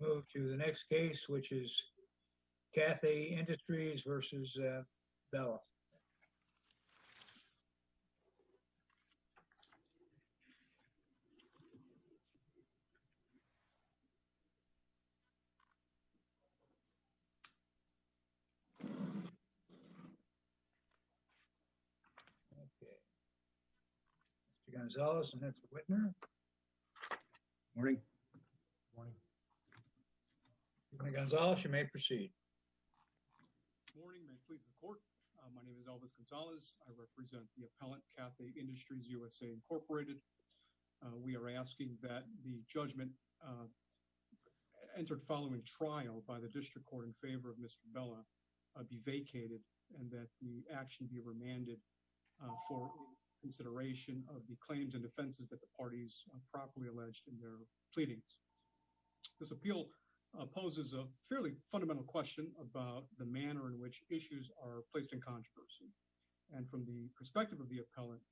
We'll move to the next case, which is Cathay Industries v. Bellah. Mr. Gonzalez and Mr. Wittner. Morning. Morning. Mr. Gonzalez, you may proceed. Morning. May it please the court. My name is Elvis Gonzalez. I represent the appellate Cathay Industries USA, Incorporated. We are asking that the judgment entered following trial by the district court in favor of Mr. Bellah be vacated and that the action be remanded for consideration of the claims and defenses that the parties properly alleged in their pleadings. This appeal poses a fairly fundamental question about the manner in which issues are placed in controversy, and from the perspective of the appellate,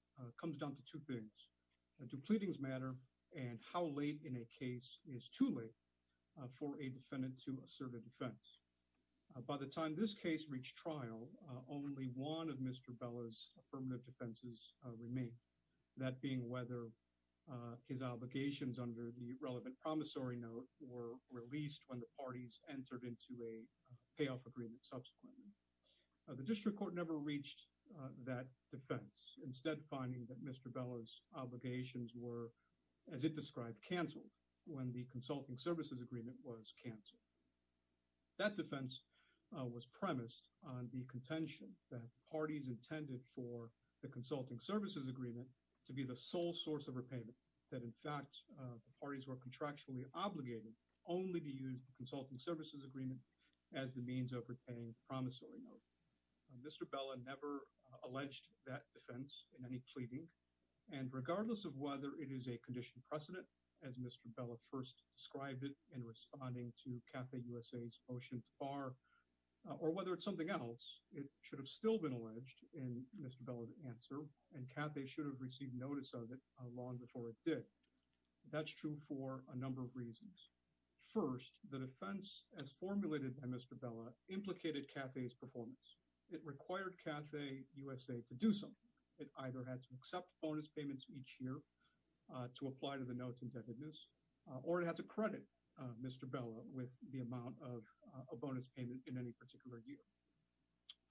comes down to two things. Do pleadings matter, and how late in a case is too late for a defendant to assert a defense? By the time this case reached trial, only one of Mr. Bellah's affirmative defenses remain, that being whether his obligations under the relevant promissory note were released when the parties entered into a payoff agreement subsequently. The district court never reached that defense, instead finding that Mr. Bellah's obligations were, as it described, canceled when the consulting services agreement was canceled. That defense was premised on the contention that parties intended for the consulting services agreement to be the sole source of repayment, that in fact the parties were contractually obligated only to use the consulting services agreement as the means of repaying the promissory note. Mr. Bellah never alleged that defense in any pleading, and regardless of whether it is a or whether it's something else, it should have still been alleged in Mr. Bellah's answer, and CAFE should have received notice of it long before it did. That's true for a number of reasons. First, the defense as formulated by Mr. Bellah implicated CAFE's performance. It required CAFE USA to do something. It either had to accept bonus payments each year to apply to the notes or it had to credit Mr. Bellah with the amount of a bonus payment in any particular year.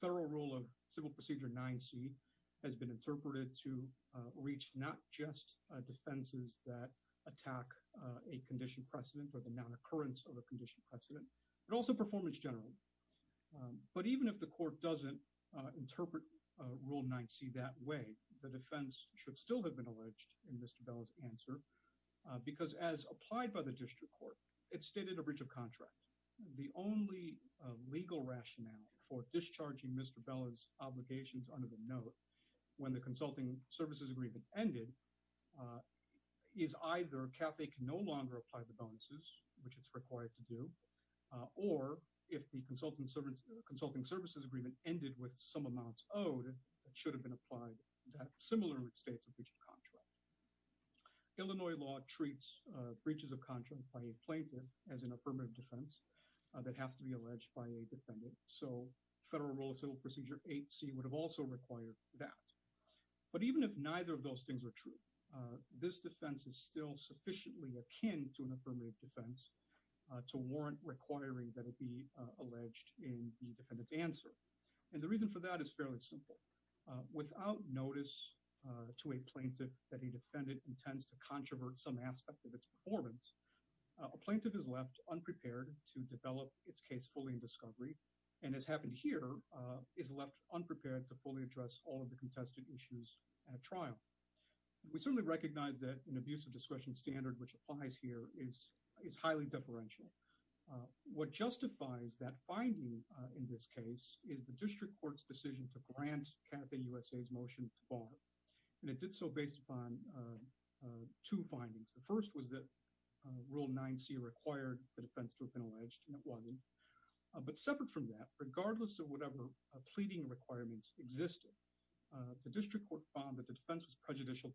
Federal Rule of Civil Procedure 9c has been interpreted to reach not just defenses that attack a condition precedent or the non-occurrence of a condition precedent, but also performance generally. But even if the court doesn't interpret Rule 9c that way, the defense should still have been alleged in Mr. Bellah's answer because as applied by the district court, it stated a breach of contract. The only legal rationale for discharging Mr. Bellah's obligations under the note when the consulting services agreement ended is either CAFE can no longer apply the bonuses, which it's required to do, or if the consulting services agreement ended with some amounts owed that should have been applied to similar states of breach of contract. Illinois law treats breaches of contract by a plaintiff as an affirmative defense that has to be alleged by a defendant. So Federal Rule of Civil Procedure 8c would have also required that. But even if neither of those things are true, this defense is still sufficiently akin to an affirmative defense to warrant requiring that it be alleged in the defendant's answer. And the reason for that is fairly simple. Without notice to a plaintiff that a defendant intends to controvert some aspect of its performance, a plaintiff is left unprepared to develop its case fully in discovery, and as happened here, is left unprepared to fully address all of the contested issues at trial. We certainly recognize that an abuse of deferential. What justifies that finding in this case is the district court's decision to grant CAFE USA's motion to bar, and it did so based upon two findings. The first was that Rule 9c required the defense to have been alleged, and it wasn't. But separate from that, regardless of whatever pleading requirements existed, the district court found that the defense was prejudicial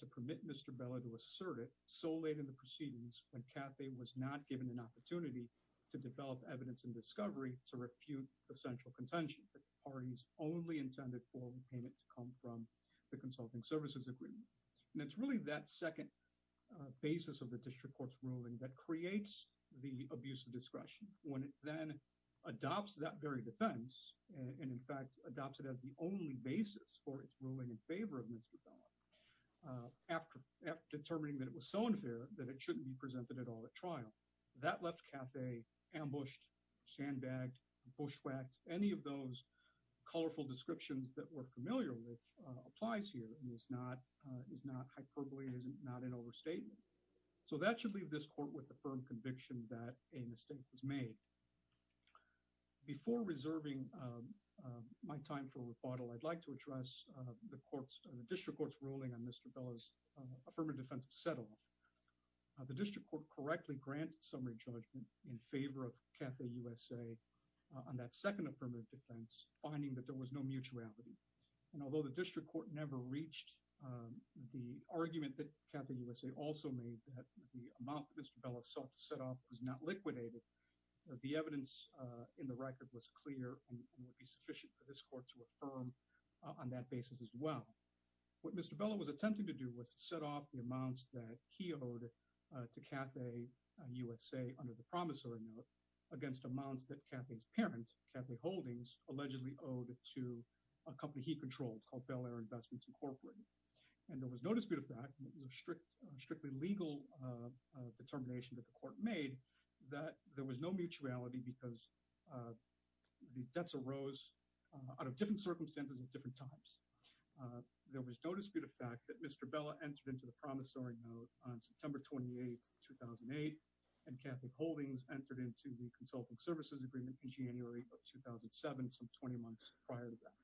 to permit Mr. Beller to assert it so late in the proceedings when CAFE was not given an opportunity to develop evidence in discovery to refute the central contention that the parties only intended for repayment to come from the consulting services agreement. And it's really that second basis of the district court's ruling that creates the abuse of discretion. When it then adopts that very defense, and in fact adopts it as the only basis for its ruling in favor of Mr. Beller after determining that it was so unfair that it shouldn't be presented at all at trial, that left CAFE ambushed, sandbagged, bushwhacked. Any of those colorful descriptions that we're familiar with applies here. It is not hyperbole. It is not an overstatement. So that should leave this court with a firm conviction that a mistake was made. Before reserving my time for rebuttal, I'd like to address the district court's ruling on Mr. Beller's affirmative defense of settle. The district court correctly granted summary judgment in favor of CAFE USA on that second affirmative defense, finding that there was no mutuality. And although the district court never reached the argument that CAFE USA also made that the amount that Mr. Beller sought to set off was not liquidated, the evidence in the record was clear and would be sufficient for this court to affirm on that basis as well. What Mr. Beller was attempting to do was to set off the amounts that he owed to CAFE USA under the promissory note against amounts that CAFE's parent, CAFE Holdings, allegedly owed to a company he controlled called Bel Air Investments Incorporated. And there was no dispute of that. It was a strictly legal determination that the court made that there was no mutuality because the debts arose out of different circumstances at different times. There was no dispute of fact that Mr. Beller entered into the promissory note on September 28, 2008, and CAFE Holdings entered into the consulting services agreement in January of 2007, some 20 months prior to that.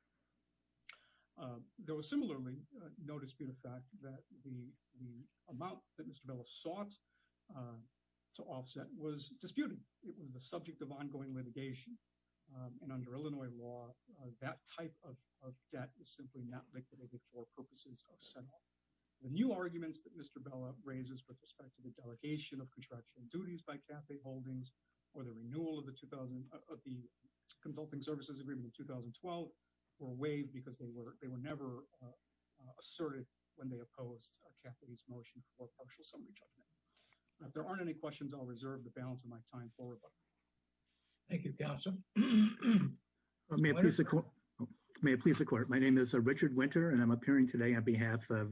There was similarly no dispute of fact that the amount that Mr. Beller sought to offset was disputed. It was the subject of ongoing litigation and under Illinois law that type of debt is simply not liquidated for purposes of set off. The new arguments that Mr. Beller raises with respect to the delegation of contractual duties by CAFE Holdings or the renewal of the 2000 of the consulting services agreement in 2012 were waived because they were they were asserted when they opposed CAFE's motion for partial summary judgment. If there aren't any questions, I'll reserve the balance of my time for rebuttal. Thank you, Gautam. May it please the court. My name is Richard Winter and I'm appearing today on behalf of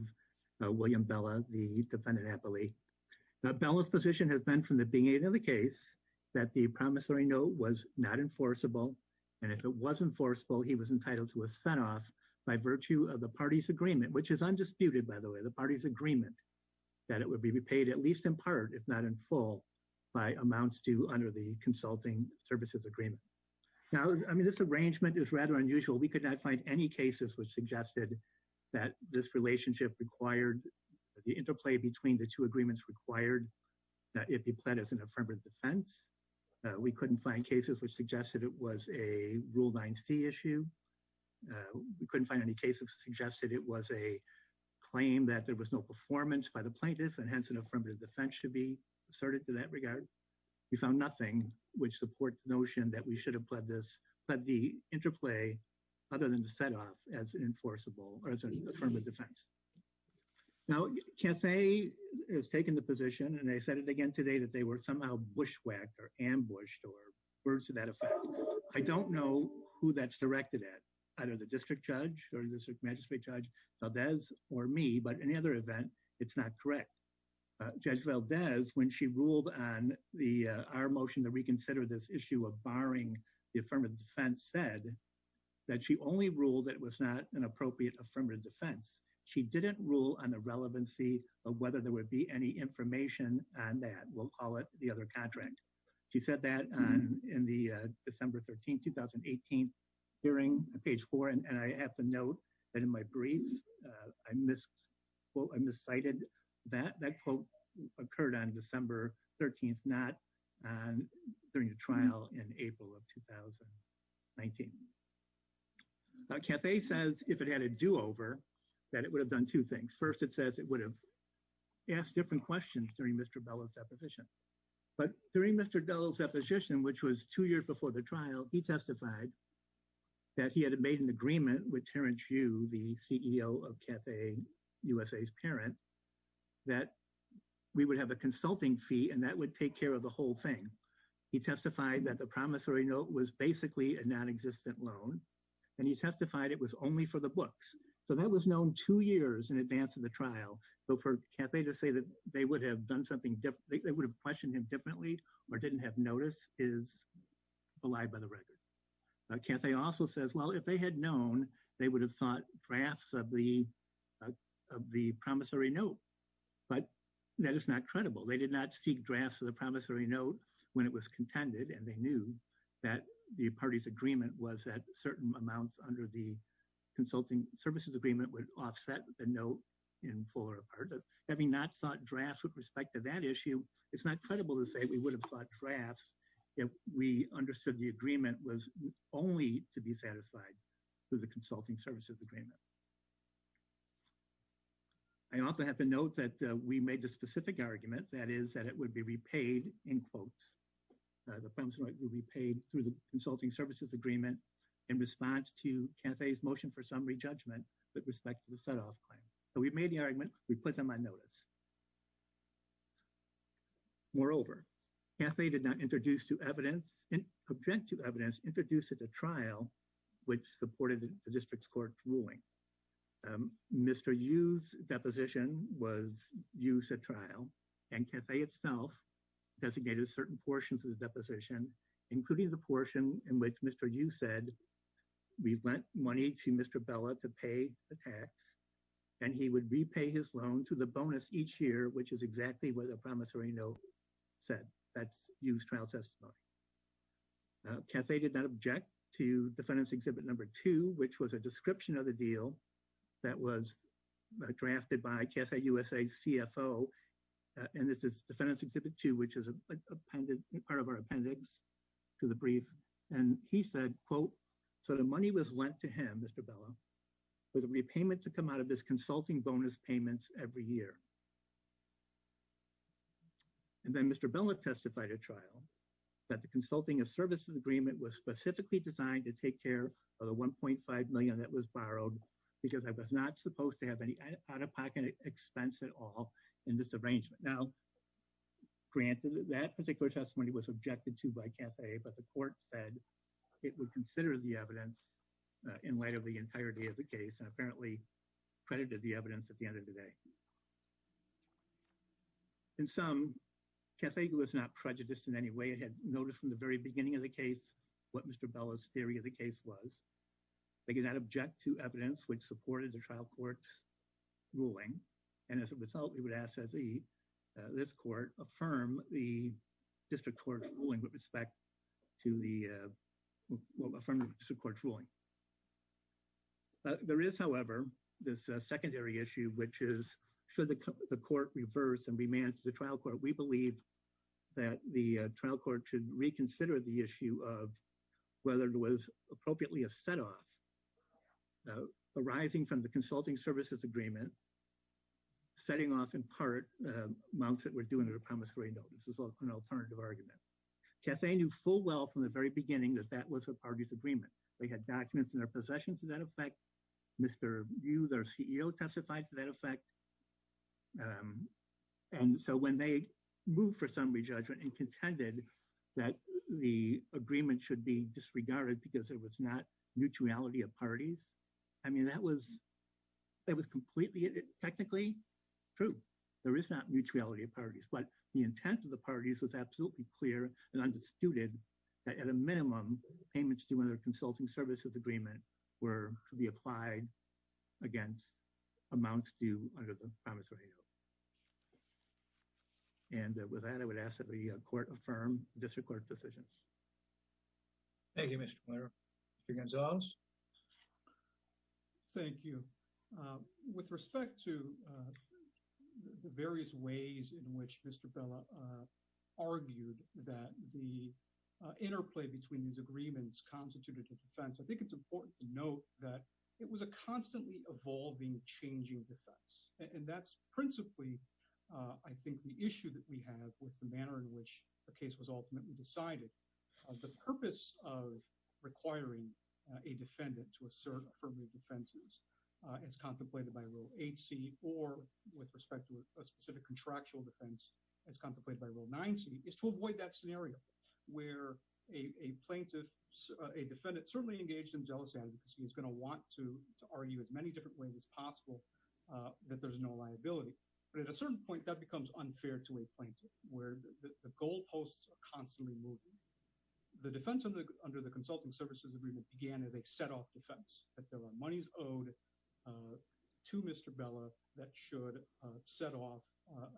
William Beller, the defendant at Bel Air. Beller's position has been from the beginning of the case that the promissory note was not enforceable and if it was enforceable, he was the party's agreement, which is undisputed, by the way, the party's agreement that it would be repaid at least in part, if not in full, by amounts due under the consulting services agreement. Now, I mean, this arrangement is rather unusual. We could not find any cases which suggested that this relationship required the interplay between the two agreements required that it be pled as an affirmative defense. We couldn't find cases which suggested it was a Rule 9c issue. We couldn't find any cases suggested it was a claim that there was no performance by the plaintiff and hence an affirmative defense should be asserted to that regard. We found nothing which supports the notion that we should have pled this, pled the interplay, other than to set off as an enforceable or as an affirmative defense. Now, CAFE has taken the position, and I said it again today, that they were somehow bushwhacked or ambushed or words to that effect. I don't know who that's directed at, either the district judge or district magistrate judge Valdez or me, but in any other event, it's not correct. Judge Valdez, when she ruled on our motion to reconsider this issue of barring the affirmative defense, said that she only ruled it was not an appropriate affirmative defense. She didn't rule on the relevancy of whether there would be any information on that. We'll call it the other contract. She said that in the December 13, 2018 hearing, page 4, and I have to note that in my brief, I misquoted, I miscited that. That quote occurred on December 13th, not during the trial in April of 2019. Now, CAFE says if it had a do-over, that it would have done two things. First, it says it would have asked different questions during Mr. Bellow's deposition, but during Mr. Bellow's deposition, which was two years before the trial, he testified that he had made an agreement with Terrence Yu, the CEO of CAFE USA's parent, that we would have a consulting fee, and that would take care of the whole thing. He testified that the promissory note was basically a non-existent loan, and he testified it was only for the books, so that was known two years in advance of the trial, but for CAFE to say that they would have questioned him differently or didn't have notice is a lie by the record. CAFE also says, well, if they had known, they would have sought drafts of the promissory note, but that is not credible. They did not seek drafts of the promissory note when it was contended, and they knew that the party's agreement was that certain amounts under the consulting services agreement would offset the note in full or part. Having not sought drafts with respect to that issue, it's not credible to say we would have sought drafts if we understood the agreement was only to be satisfied with the consulting services agreement. I also have to note that we made a specific argument, that is, that it would be repaid in quotes. The promissory note would be paid through the consulting services agreement in response to CAFE's motion for summary judgment with respect to the set-off claim, so we made the argument. We put them on notice. Moreover, CAFE did not object to evidence introduced at the trial which supported the district's court ruling. Mr. Yu's deposition was used at trial, and CAFE itself designated certain portions of the deposition, including the portion in which Mr. Yu said, we lent money to Mr. Bella to pay the tax, and he would repay his loan through the bonus each year, which is exactly what the promissory note said. That's Yu's trial testimony. CAFE did not object to defendant's exhibit number two, which was a CFO, and this is defendant's exhibit two, which is a part of our appendix to the brief, and he said, quote, so the money was lent to him, Mr. Bella, with a repayment to come out of his consulting bonus payments every year. And then Mr. Bella testified at trial that the consulting services agreement was specifically designed to take care of the $1.5 million that was borrowed because I was not supposed to have out-of-pocket expense at all in this arrangement. Now, granted, that particular testimony was objected to by CAFE, but the court said it would consider the evidence in light of the entirety of the case and apparently credited the evidence at the end of the day. In sum, CAFE was not prejudiced in any way. It had noticed from the very beginning of the case what Mr. Bella's trial court's ruling, and as a result, we would ask that this court affirm the district court's ruling with respect to the – affirm the district court's ruling. There is, however, this secondary issue, which is should the court reverse and remand to the trial court. We believe that the trial court should reconsider the issue of whether it was appropriately a set-off, though arising from the consulting services agreement, setting off, in part, amounts that were due under the promise for a note. This is an alternative argument. CAFE knew full well from the very beginning that that was the party's agreement. They had documents in their possession to that effect. Mr. Hughes, our CEO, testified to that effect. And so when they moved for some re-judgment and contended that the agreement should be of parties, I mean, that was – that was completely – technically true. There is not mutuality of parties. But the intent of the parties was absolutely clear and undisputed that at a minimum, payments to another consulting services agreement were to be applied against amounts due under the promise for a note. And with that, I would ask that the court affirm this recorded decision. Thank you, Mr. Mayor. Mr. Gonzalez? Thank you. With respect to the various ways in which Mr. Bella argued that the interplay between these agreements constituted a defense, I think it's important to note that it was a constantly evolving, changing defense. And that's principally, I think, the issue that we have with the manner in which the case was ultimately decided. The purpose of requiring a defendant to assert affirmative defenses as contemplated by Rule 8c or with respect to a specific contractual defense as contemplated by Rule 9c is to avoid that scenario where a plaintiff – a defendant certainly engaged in jealous advocacy is going to want to argue as many different ways as possible that there's no liability. But at a certain point, that becomes unfair to a plaintiff, where the goalposts are constantly moving. The defense under the consulting services agreement began as a set-off defense, that there were monies owed to Mr. Bella that should set off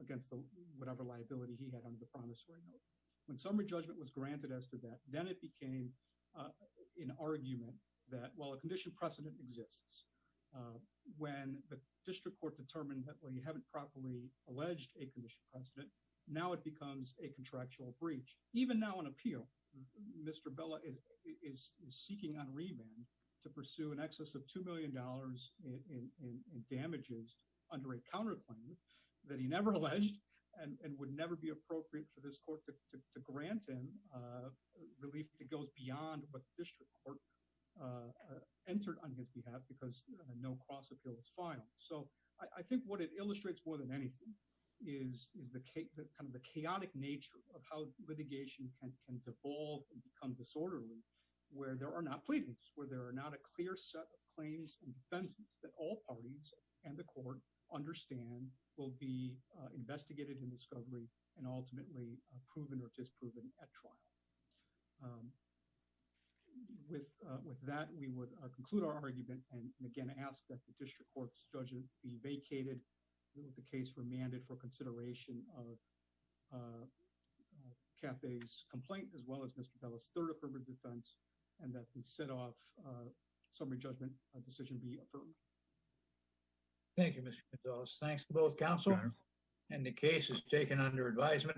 against whatever liability he had under the promise for a note. When summary judgment was granted as to that, then it became an argument that while a condition precedent exists, when the district court determined that we haven't properly alleged a condition precedent, now it becomes a contractual breach. Even now on appeal, Mr. Bella is seeking on remand to pursue in excess of $2 million in damages under a counterclaim that he never alleged and would never be appropriate for this court to grant him relief that goes beyond what the district court entered on his behalf because a no-cross appeal was filed. So I think what it illustrates more than anything is the chaotic nature of how litigation can devolve and become disorderly, where there are not plaintiffs, where there are not a clear set of claims and defenses that all parties and the court understand will be investigated in discovery and ultimately proven or disproven at trial. With that, we would conclude our argument and again ask that the case remanded for consideration of Caffey's complaint as well as Mr. Bella's third affirmative defense and that the set off summary judgment decision be affirmed. Thank you, Mr. Gonzalez. Thanks to both counsel and the case is taken under advisement.